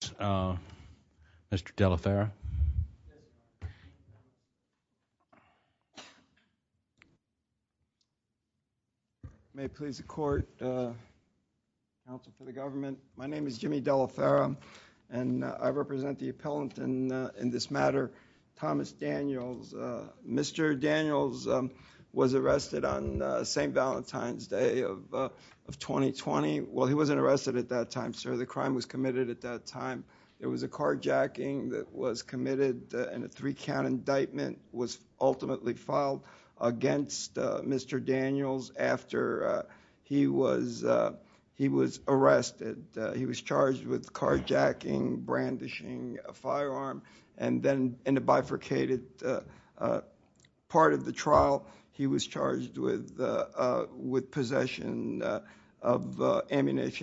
Mr. Daniels was arrested on St. Valentine's Day of of 2020. Well he wasn't arrested at that time, sir. The crime was committed at that time. It was a carjacking that was committed and a three-count indictment was ultimately filed against Mr. Daniels after he was he was arrested. He was charged with carjacking, brandishing a firearm, and then in a bifurcated part of the trial he was charged with with discrimination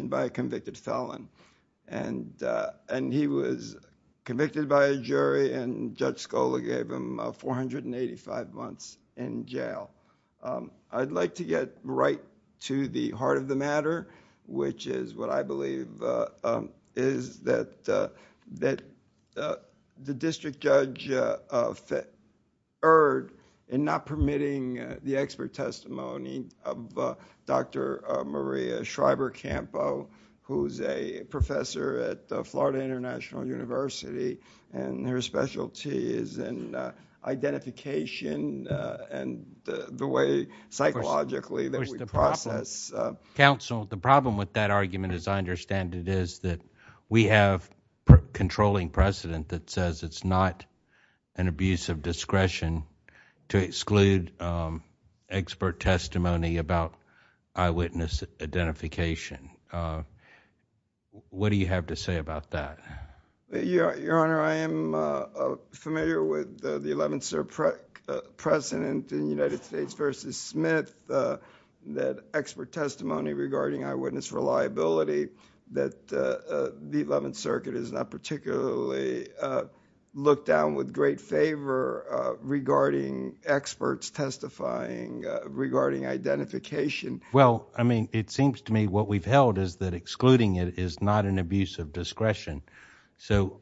by a convicted felon. He was convicted by a jury and Judge Scola gave him 485 months in jail. I'd like to get right to the heart of the matter, which is what I believe is that the district judge erred in not who's a professor at Florida International University and her specialty is in identification and the way psychologically that we process counsel the problem with that argument as I understand it is that we have controlling precedent that says it's not an abuse of discretion to exclude expert testimony about eyewitness identification. What do you have to say about that? Your Honor, I am familiar with the Eleventh Circuit precedent in United States v. Smith that expert testimony regarding eyewitness reliability that the Eleventh Circuit is not particularly looked down with great favor regarding experts testifying regarding identification. Well, I mean, it seems to me what we've held is that excluding it is not an abuse of discretion. So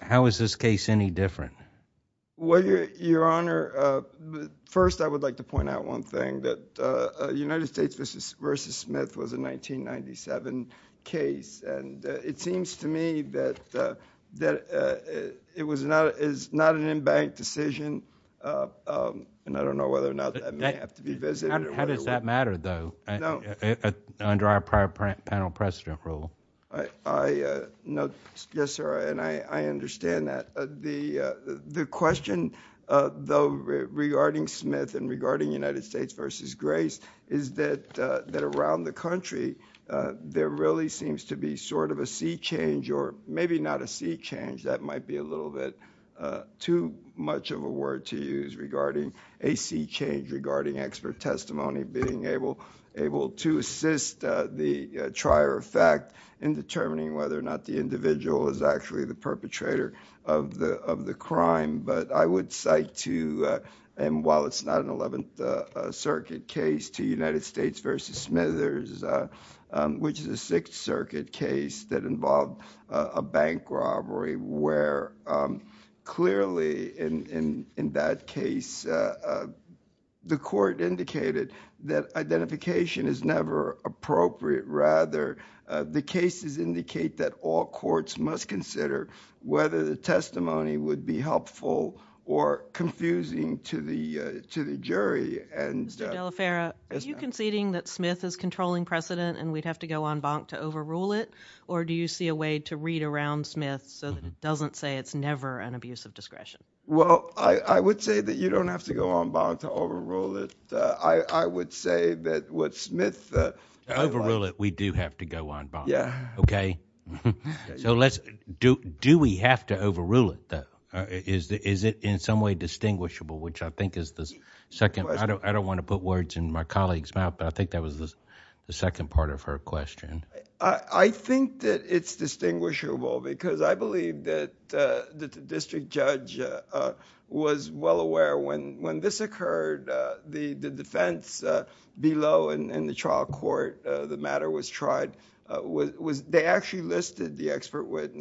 how is this case any different? Well, Your Honor, uh, first I would like to point out one thing that United States v. Smith was a 1997 case and it seems to me that that it was not is not an in-bank decision and I don't know whether or not that may have to be visited. How does that matter, though, under our prior panel precedent rule? I know, yes, sir, and I understand that. The question though regarding Smith and regarding United States v. Grace is that that around the country there really seems to be sort of a sea change or maybe not a sea change that might be a little bit too much of a word to use regarding a sea change regarding expert testimony being able able to assist the trier of fact in determining whether or not the individual is actually the perpetrator of the of the crime. But I would cite to, and while it's not an Eleventh Circuit case, to United States v. Smithers, which is a Sixth Circuit case that involved a bank robbery where clearly in in that case the court indicated that identification is never appropriate. Rather, the cases indicate that all courts must consider whether the testimony would be helpful or confusing to the to the federal. Are you conceding that Smith is controlling precedent and we'd have to go on bonk to overrule it, or do you see a way to read around Smith so that it doesn't say it's never an abuse of discretion? Well, I would say that you don't have to go on bonk to overrule it. I would say that what Smith... To overrule it, we do have to go on bonk. Yeah. Okay, so let's... Do we have to overrule it, though? Is it in some way distinguishable, which I think is the second... I don't want to put words in my colleague's mouth, but I think that was the second part of her question. I think that it's distinguishable because I believe that the district judge was well aware when this occurred, the defense below in the trial court, the matter was tried. They actually listed the expert on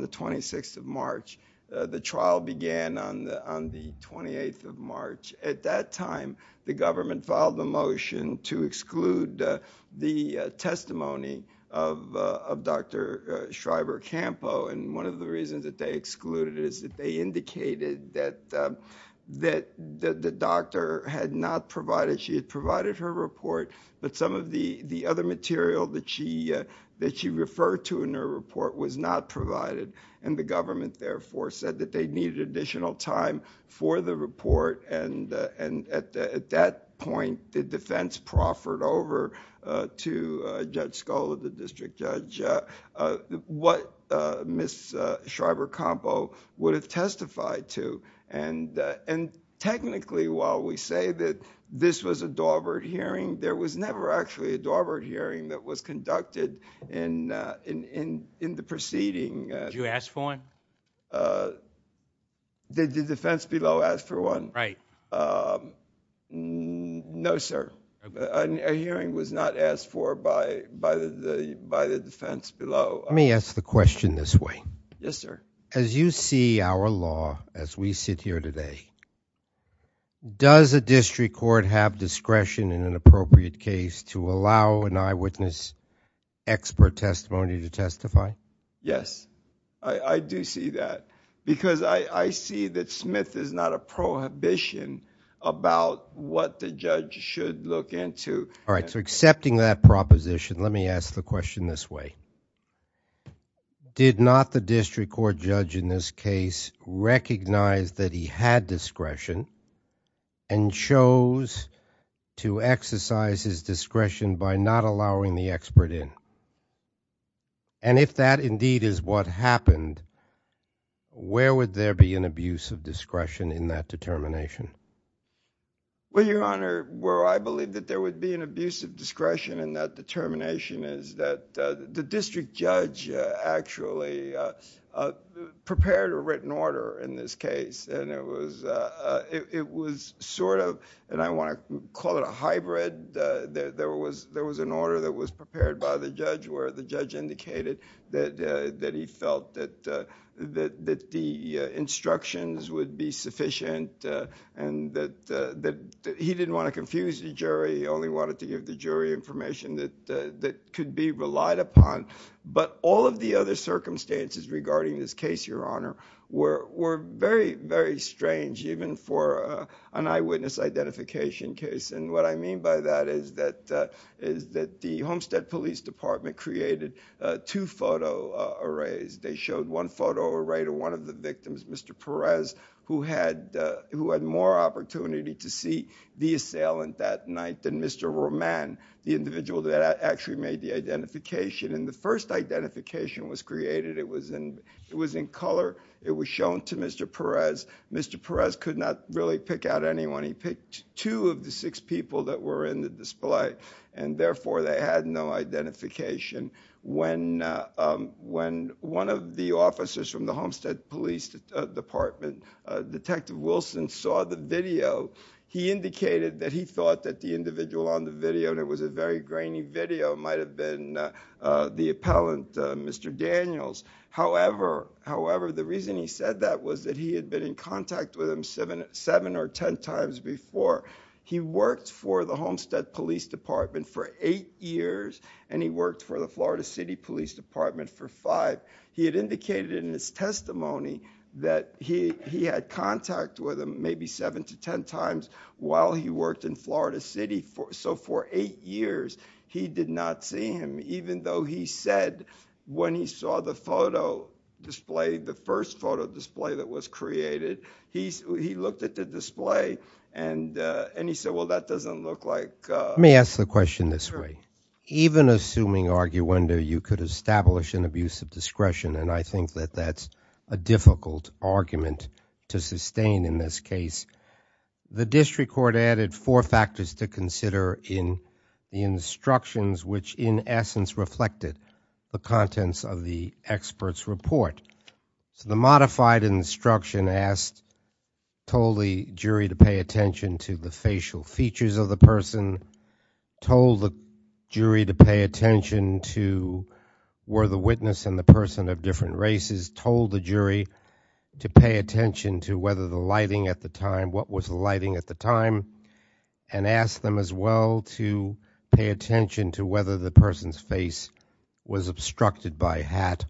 the 28th of March. At that time, the government filed a motion to exclude the testimony of Dr. Schreiber-Campo, and one of the reasons that they excluded is that they indicated that the doctor had not provided... She had provided her report, but some of the other material that she referred to in her report was not provided, and the government therefore said that they excluded the report. At that point, the defense proffered over to Judge Scull, the district judge, what Ms. Schreiber-Campo would have testified to. Technically, while we say that this was a Daubert hearing, there was never actually a Daubert hearing that was conducted in the proceeding. Did you ask for one? Did the defense below ask for one? No, sir. A hearing was not asked for by the defense below. Let me ask the question this way. Yes, sir. As you see our law as we sit here today, does a district court have discretion in an appropriate case to allow an eyewitness expert testimony to testify? Yes, I do see that because I see that Smith is not a prohibition about what the judge should look into. All right, so accepting that proposition, let me ask the question this way. Did not the district court judge in this case recognize that he had discretion and chose to exercise his discretion by not doing so? If that indeed is what happened, where would there be an abuse of discretion in that determination? Well, Your Honor, where I believe that there would be an abuse of discretion in that determination is that the district judge actually prepared a written order in this case. It was sort of, and I want to call it a hybrid, there was an order that was prepared by the judge where the judge indicated that he felt that the instructions would be sufficient and that he didn't want to confuse the jury. He only wanted to give the jury information that could be relied upon. But all of the other circumstances regarding this case, Your Honor, were very, very strange even for an eyewitness identification case. And what I mean by that is that the Homestead Police Department created two photo arrays. They showed one photo array to one of the victims, Mr. Perez, who had more opportunity to see the assailant that night than Mr. Roman, the individual that actually made the identification. And the first identification was created. It was in color. It was shown to Mr. Perez. Mr. Perez could not really pick out anyone. He picked two of the six people that were in the display, and therefore they had no identification. When one of the officers from the Homestead Police Department, Detective Wilson, saw the video, he indicated that he thought that the individual on the video, and it was a very grainy video, might have been the appellant, Mr. Daniels. However, the reason he said that was that he had been in contact with him seven or ten times before. He worked for the Homestead Police Department for eight years, and he worked for the Florida City Police Department for five. He had indicated in his testimony that he had contact with him maybe seven to ten times while he worked in Florida City, so for eight years he did not see him, even though he said when he saw the photo display, the first photo display that was created, he looked at the display and he said, well, that doesn't look like... Let me ask the question this way. Even assuming arguenda, you could establish an abuse of discretion, and I think that that's a difficult argument to sustain in this case. The district court added four factors to consider in the instructions, which in essence reflected the contents of the expert's report. So the modified instruction asked, told the jury to pay attention to the facial features of the person, told the jury to pay attention to were the witness and the person of different races, told the jury to pay attention to whether the lighting at the time, what was the lighting at the time, and asked them as well to pay attention to whether the person's face was obstructed by hat,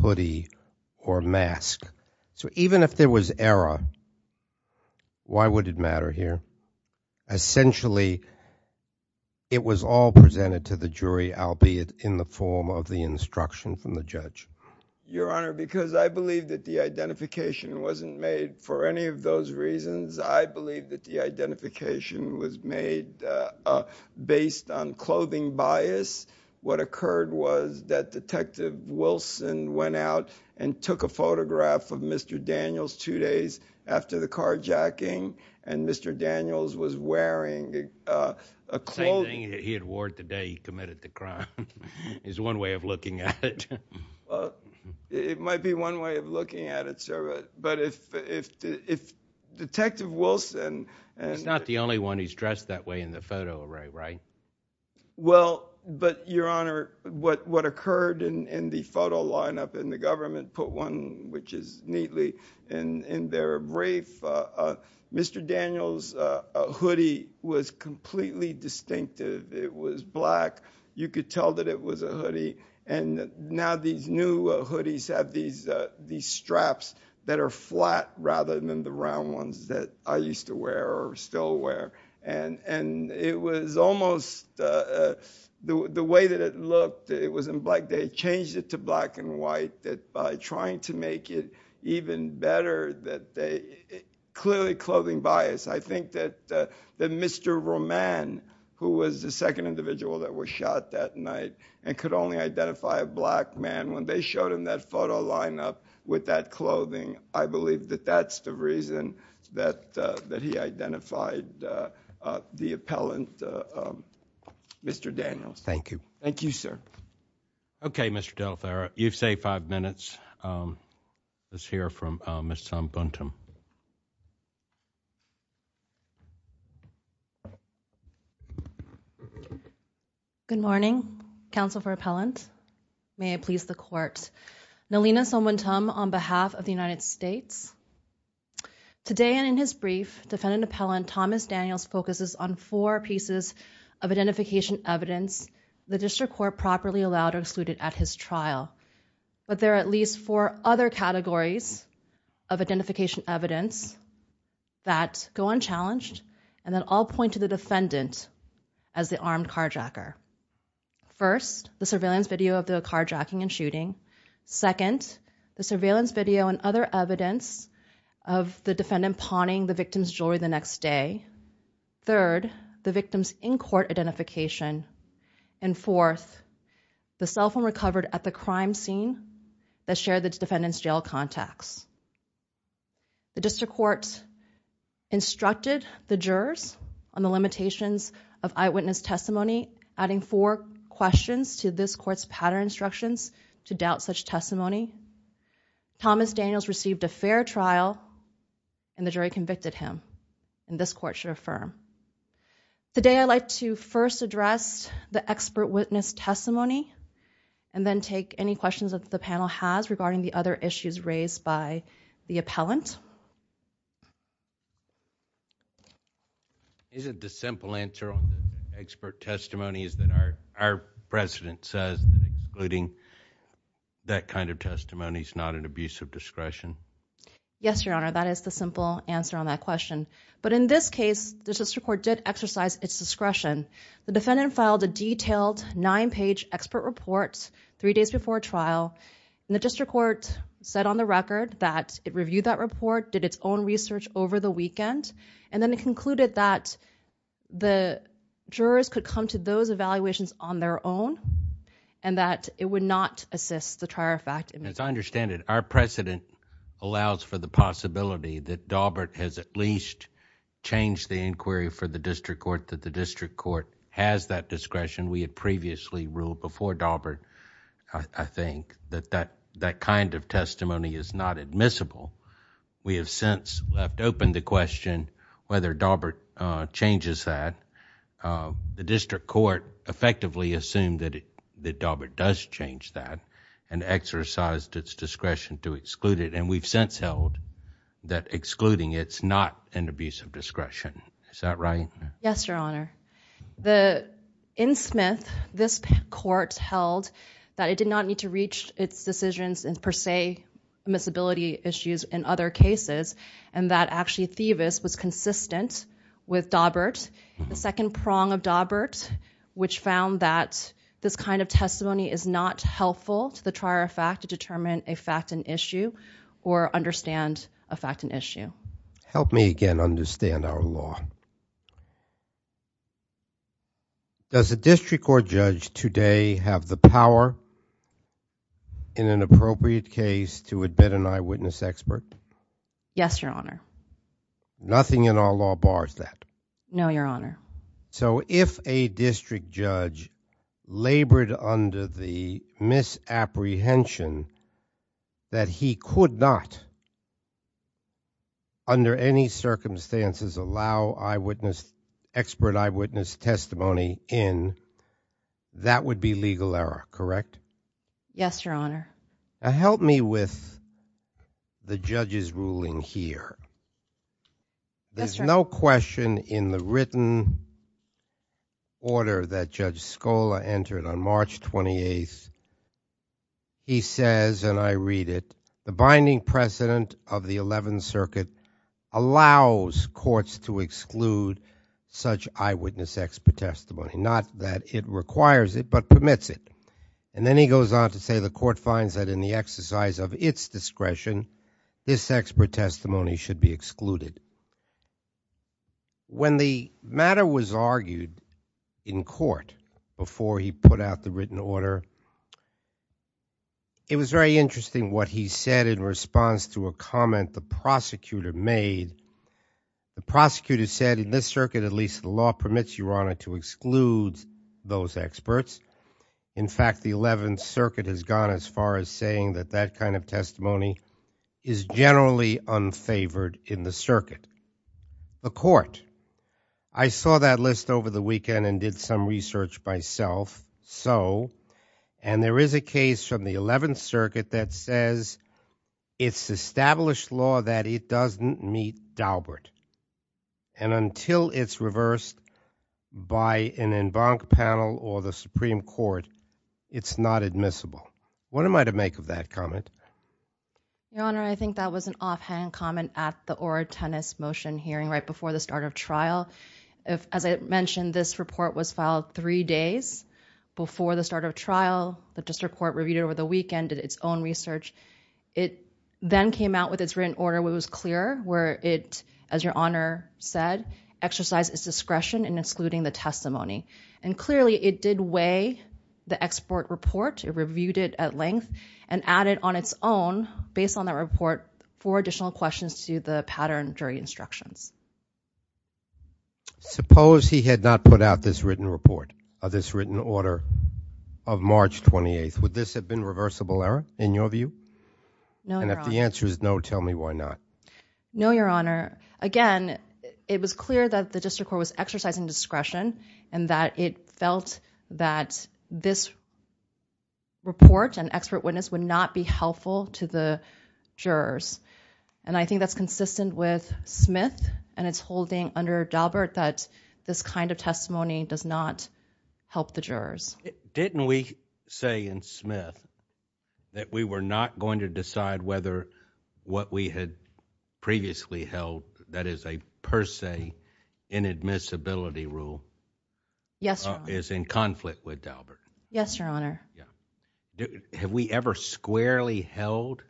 hoodie, or mask. So even if there was error, why would it matter here? Essentially, it was all presented to the jury, albeit in the form of the instruction from the judge. Your Honor, because I believe that the identification wasn't made for any of those reasons, I believe that the what occurred was that Detective Wilson went out and took a photograph of Mr. Daniels two days after the carjacking, and Mr. Daniels was wearing... The same thing he had wore the day he committed the crime is one way of looking at it. It might be one way of looking at it, sir, but if Detective Wilson... He's not the only one who's dressed that way in the photo, right? Well, but Your Honor, what occurred in the photo lineup in the government put one, which is neatly, in their brief. Mr. Daniels' hoodie was completely distinctive. It was black. You could tell that it was a hoodie, and now these new hoodies have these straps that are flat rather than the round ones that I was almost... The way that it looked, it was in black. They changed it to black and white by trying to make it even better that they... Clearly, clothing bias. I think that Mr. Roman, who was the second individual that was shot that night and could only identify a black man, when they showed him that photo lineup with that clothing, I believe that that's the reason that he identified the defendant appellant, Mr. Daniels. Thank you. Thank you, sir. Okay, Mr. DelFerro. You've saved five minutes. Let's hear from Ms. Sombhantam. Good morning, Counsel for Appellant. May it please the Court. Nalina Sombhantam on behalf of the United States. Today and in his brief, defendant appellant Thomas has four pieces of identification evidence the District Court properly allowed or excluded at his trial, but there are at least four other categories of identification evidence that go unchallenged and that all point to the defendant as the armed carjacker. First, the surveillance video of the carjacking and shooting. Second, the surveillance video and other evidence of the defendant pawning the victim's jewelry the next day. Third, the victim's in-court identification. And fourth, the cell phone recovered at the crime scene that shared the defendant's jail contacts. The District Court instructed the jurors on the limitations of eyewitness testimony, adding four questions to this court's pattern instructions to doubt such testimony. Thomas Daniels received a fair trial and the jury convicted him, and this court should affirm. Today I'd like to first address the expert witness testimony and then take any questions that the panel has regarding the other issues raised by the appellant. Isn't the simple answer on expert testimony is that our our president says including that kind of testimony is not an abuse of discretion? Yes, Your Honor, that is the simple answer on that question. But in this case, the District Court did exercise its discretion. The defendant filed a detailed nine-page expert report three days before trial, and the District Court said on the record that it reviewed that report, did its own research over the weekend, and then it concluded that the jurors could come to those evaluations on their own and that it would not assist the trial. In fact, as I understand it, our precedent allows for the possibility that Daubert has at least changed the inquiry for the District Court that the District Court has that discretion. We had previously ruled before Daubert. I think that that that kind of testimony is not admissible. We have since left open the question whether Daubert changes that. The District Court effectively assumed that that Daubert does change that and exercised its discretion to exclude it. And we've since held that excluding it's not an abuse of discretion. Is that right? Yes, Your Honor. The in Smith, this court held that it did not need to reach its decisions and per se, miss ability issues in other cases, and that actually, Theavis was consistent with Daubert, the second prong of Daubert, which found that this kind of testimony is not helpful to the trier of fact to determine a fact an issue or understand a fact an issue. Help me again understand our law. Does the District Court judge today have the power in an appropriate case to admit an eyewitness expert? Yes, Your Honor. Nothing in our law bars that. No, Your Honor. So if a district judge labored under the misapprehension that he could not under any circumstances, allow eyewitness expert eyewitness testimony in that would be legal error. Correct? Yes, Your Honor. Help me with the There's no question in the written order that Judge Scola entered on March 28th. He says, and I read it, the binding precedent of the 11th Circuit allows courts to exclude such eyewitness expert testimony, not that it requires it, but permits it. And then he goes on to say the court finds that in the exercise of its discretion, this expert testimony should be excluded. When the matter was argued in court before he put out the written order, it was very interesting what he said in response to a comment the prosecutor made. The prosecutor said in this circuit, at least the law permits your honor to exclude those experts. In fact, the 11th Circuit has gone as far as saying that that kind of testimony is generally unfavored in the circuit. The court. I saw that list over the weekend and did some research by self. So, and there is a case from the 11th Circuit that says it's established law that it doesn't meet Daubert. And until it's reversed by an en banc panel or the Supreme Court, it's not admissible. What am I to make of that comment? Your honor, I think that was an offhand comment at the or a tennis motion hearing right before the start of trial. If, as I mentioned, this report was filed three days before the start of trial, the district court reviewed it over the weekend, did its own research. It then came out with its written order. It was clear where it, as discretion in excluding the testimony and clearly it did weigh the export report. It reviewed it at length and added on its own based on that report for additional questions to the pattern jury instructions. Suppose he had not put out this written report of this written order of March 28th. Would this have been reversible error in your view? No. And if the answer is no, tell me why not? No, Your Honor. Again, it was clear that the district court was exercising discretion and that it felt that this report and expert witness would not be helpful to the jurors. And I think that's consistent with Smith and it's holding under Daubert that this kind of testimony does not help the jurors. Didn't we say in Smith that we were not going to decide whether what we had previously held that is a per se inadmissibility rule is in conflict with Daubert? Yes, Your Honor. Have we ever squarely held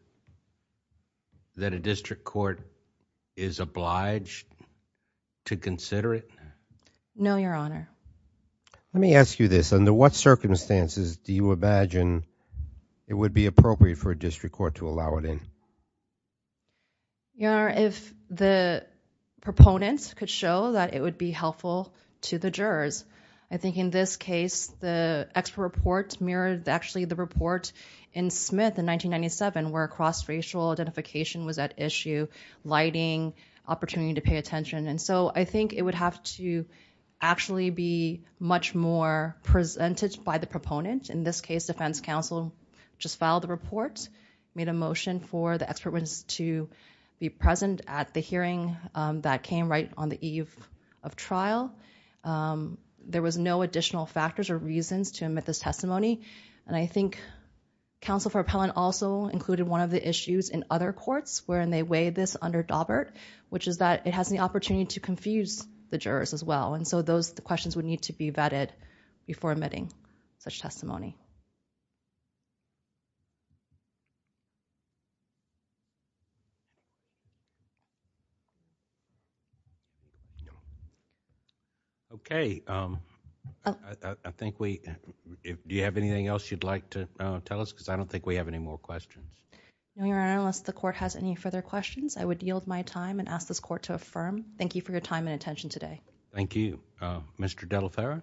that a district court is obliged to consider it? No, Your Honor. Let me ask you this. Under what district court to allow it in? Your Honor, if the proponents could show that it would be helpful to the jurors. I think in this case, the expert report mirrored actually the report in Smith in 1997 where cross-racial identification was at issue, lighting, opportunity to pay attention. And so I think it would have to actually be much more presented by the proponent. In this case, defense counsel just filed the report, made a motion for the expert witness to be present at the hearing that came right on the eve of trial. There was no additional factors or reasons to admit this testimony. And I think counsel for appellant also included one of the issues in other courts where they weighed this under Daubert, which is that it has the opportunity to confuse the jurors as well. And so those questions would need to be vetted before admitting such testimony. Okay. I think we, do you have anything else you'd like to tell us? Because I don't think we have any more questions. Your Honor, unless the court has any further questions, I would yield my time and ask this court to affirm. Thank you for your time and attention today. Thank you. Mr. Delaferra.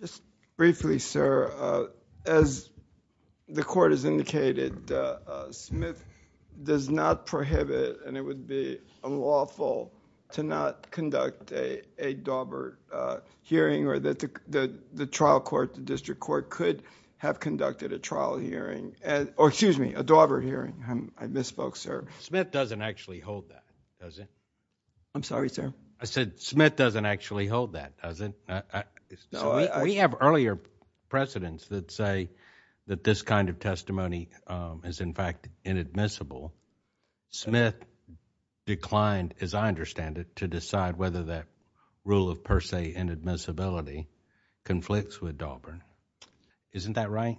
Just briefly, sir. As the court has indicated, Smith does not prohibit, and it would be unlawful, to not conduct a Daubert hearing or that the trial court, the district court, could have conducted a trial hearing, or excuse me, a Daubert hearing. I misspoke, sir. Smith doesn't actually hold that, does it? I'm sorry, sir. I said Smith doesn't actually hold that, does it? We have earlier precedents that say that this kind of testimony is in fact inadmissible. Smith declined, as I understand it, to decide whether that rule of per se inadmissibility conflicts with Daubert. Isn't that right?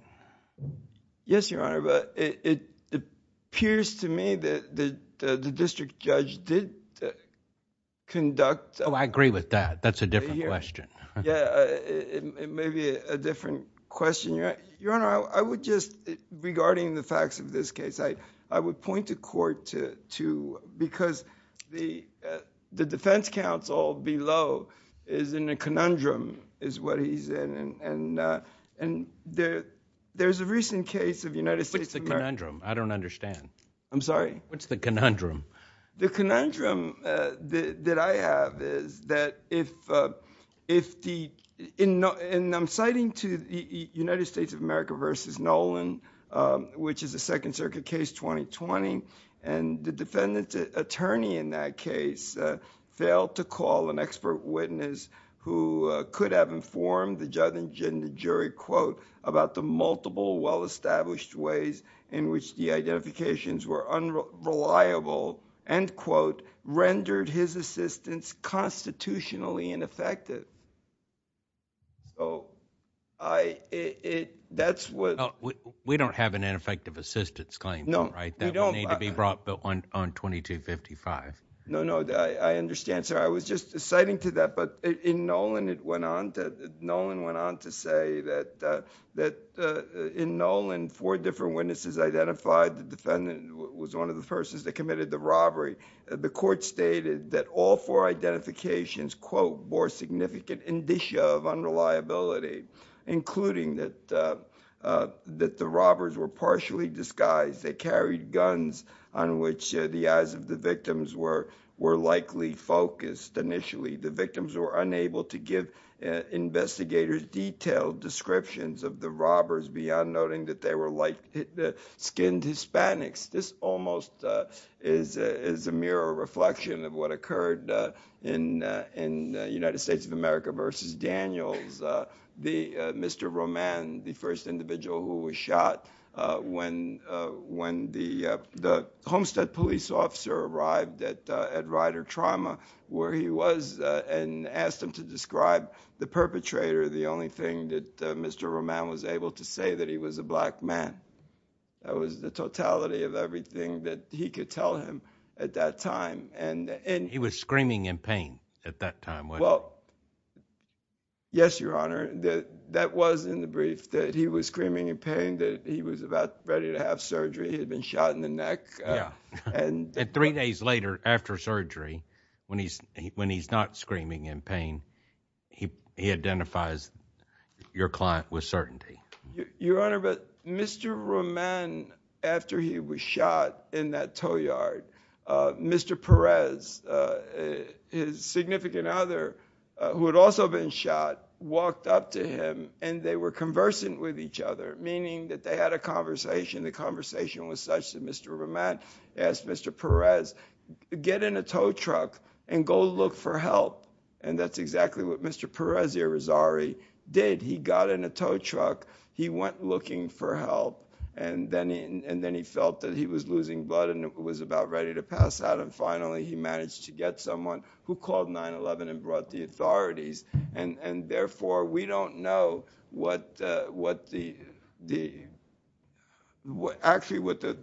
Yes, Your Honor, but it appears to me that the district judge did conduct... I agree with that. That's a different question. Yeah, it may be a different question. Your Honor, I would just, regarding the facts of this case, I would point the court to... because the defense counsel below is in a conundrum, is what he's in, and there's a recent case of United States of America... What's the conundrum? I don't understand. I'm sorry? What's the conundrum? The conundrum that I have is that if the... and I'm citing to the United States of America versus Nolan, which is a Second Circuit case, 2020, and the defendant's attorney in that case failed to call an expert witness who could have informed the judge and the jury, quote, about the multiple well-established ways in which the identifications were unreliable, end quote, rendered his assistance constitutionally ineffective. That's what... Well, we don't have an ineffective assistance claim. No, we don't. It doesn't need to be brought on 2255. No, no. I understand, sir. I was just citing to that, but in Nolan, it went on to... Nolan went on to say that in Nolan, four different witnesses identified the defendant was one of the persons that committed the robbery. The court stated that all four identifications, quote, bore significant indicia of unreliability, including that the robbers were partially disguised. They carried guns on which the eyes of the victims were likely focused initially. The victims were unable to give investigators detailed descriptions of the robbers beyond noting that they were like skinned Hispanics. This almost is a mirror reflection of what occurred in United States of America versus Daniels. Mr. Roman, the first individual who was when the Homestead police officer arrived at Rider Trauma where he was and asked him to describe the perpetrator, the only thing that Mr. Roman was able to say that he was a black man. That was the totality of everything that he could tell him at that time. He was screaming in pain at that time, weren't he? Well, yes, Your Honor. That was in the brief that he was screaming in pain, that he was about ready to have surgery. He had been shot in the neck. Yeah. And three days later, after surgery, when he's not screaming in pain, he identifies your client with certainty. Your Honor, but Mr. Roman, after he was shot in that tow yard, Mr. Perez, his significant other, who had also been shot, walked up to him and they were conversant with each other, meaning that they had a conversation. The conversation was such that Mr. Roman asked Mr. Perez, get in a tow truck and go look for help. And that's exactly what Mr. Perez Irizarry did. He got in a tow truck. He went looking for help. And then he felt that he was losing blood and was about ready to pass out. And finally, he managed to get someone who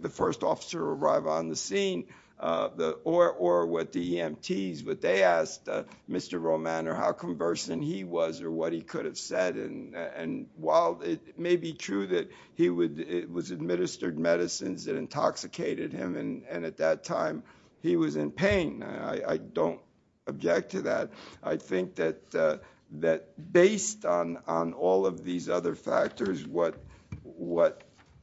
the first officer arrived on the scene, or what the EMTs, what they asked Mr. Roman or how conversant he was or what he could have said. And while it may be true that it was administered medicines that intoxicated him, and at that time he was in pain, I don't object to that. I think that based on all of these other factors, what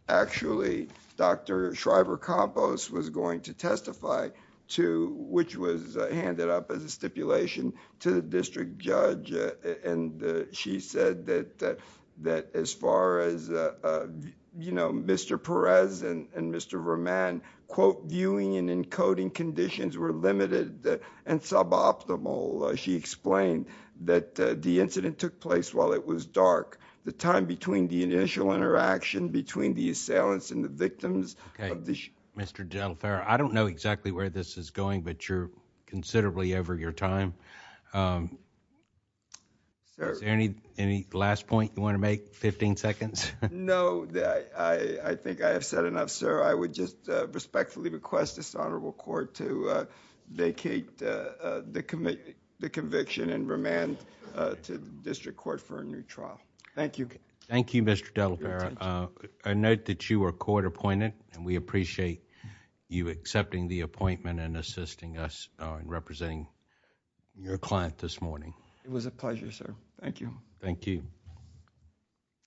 actually Dr. Shriver-Campos was going to testify to, which was handed up as a stipulation to the district judge. And she said that as far as Mr. Perez and Mr. Roman, quote, viewing and encoding conditions were limited and suboptimal. She explained that the incident took place while it was dark. The time between the initial interaction, between the assailants and the victims. Okay. Mr. DelFerro, I don't know exactly where this is going, but you're considerably over your time. Is there any last point you want to make? 15 seconds? No. I think I have said enough, sir. I would just respectfully request this honorable court to vacate the conviction and remand to district court for a new trial. Thank you, Mr. DelFerro. I note that you are court appointed and we appreciate you accepting the appointment and assisting us in representing your client this morning. It was a pleasure, sir. Thank you. Thank you.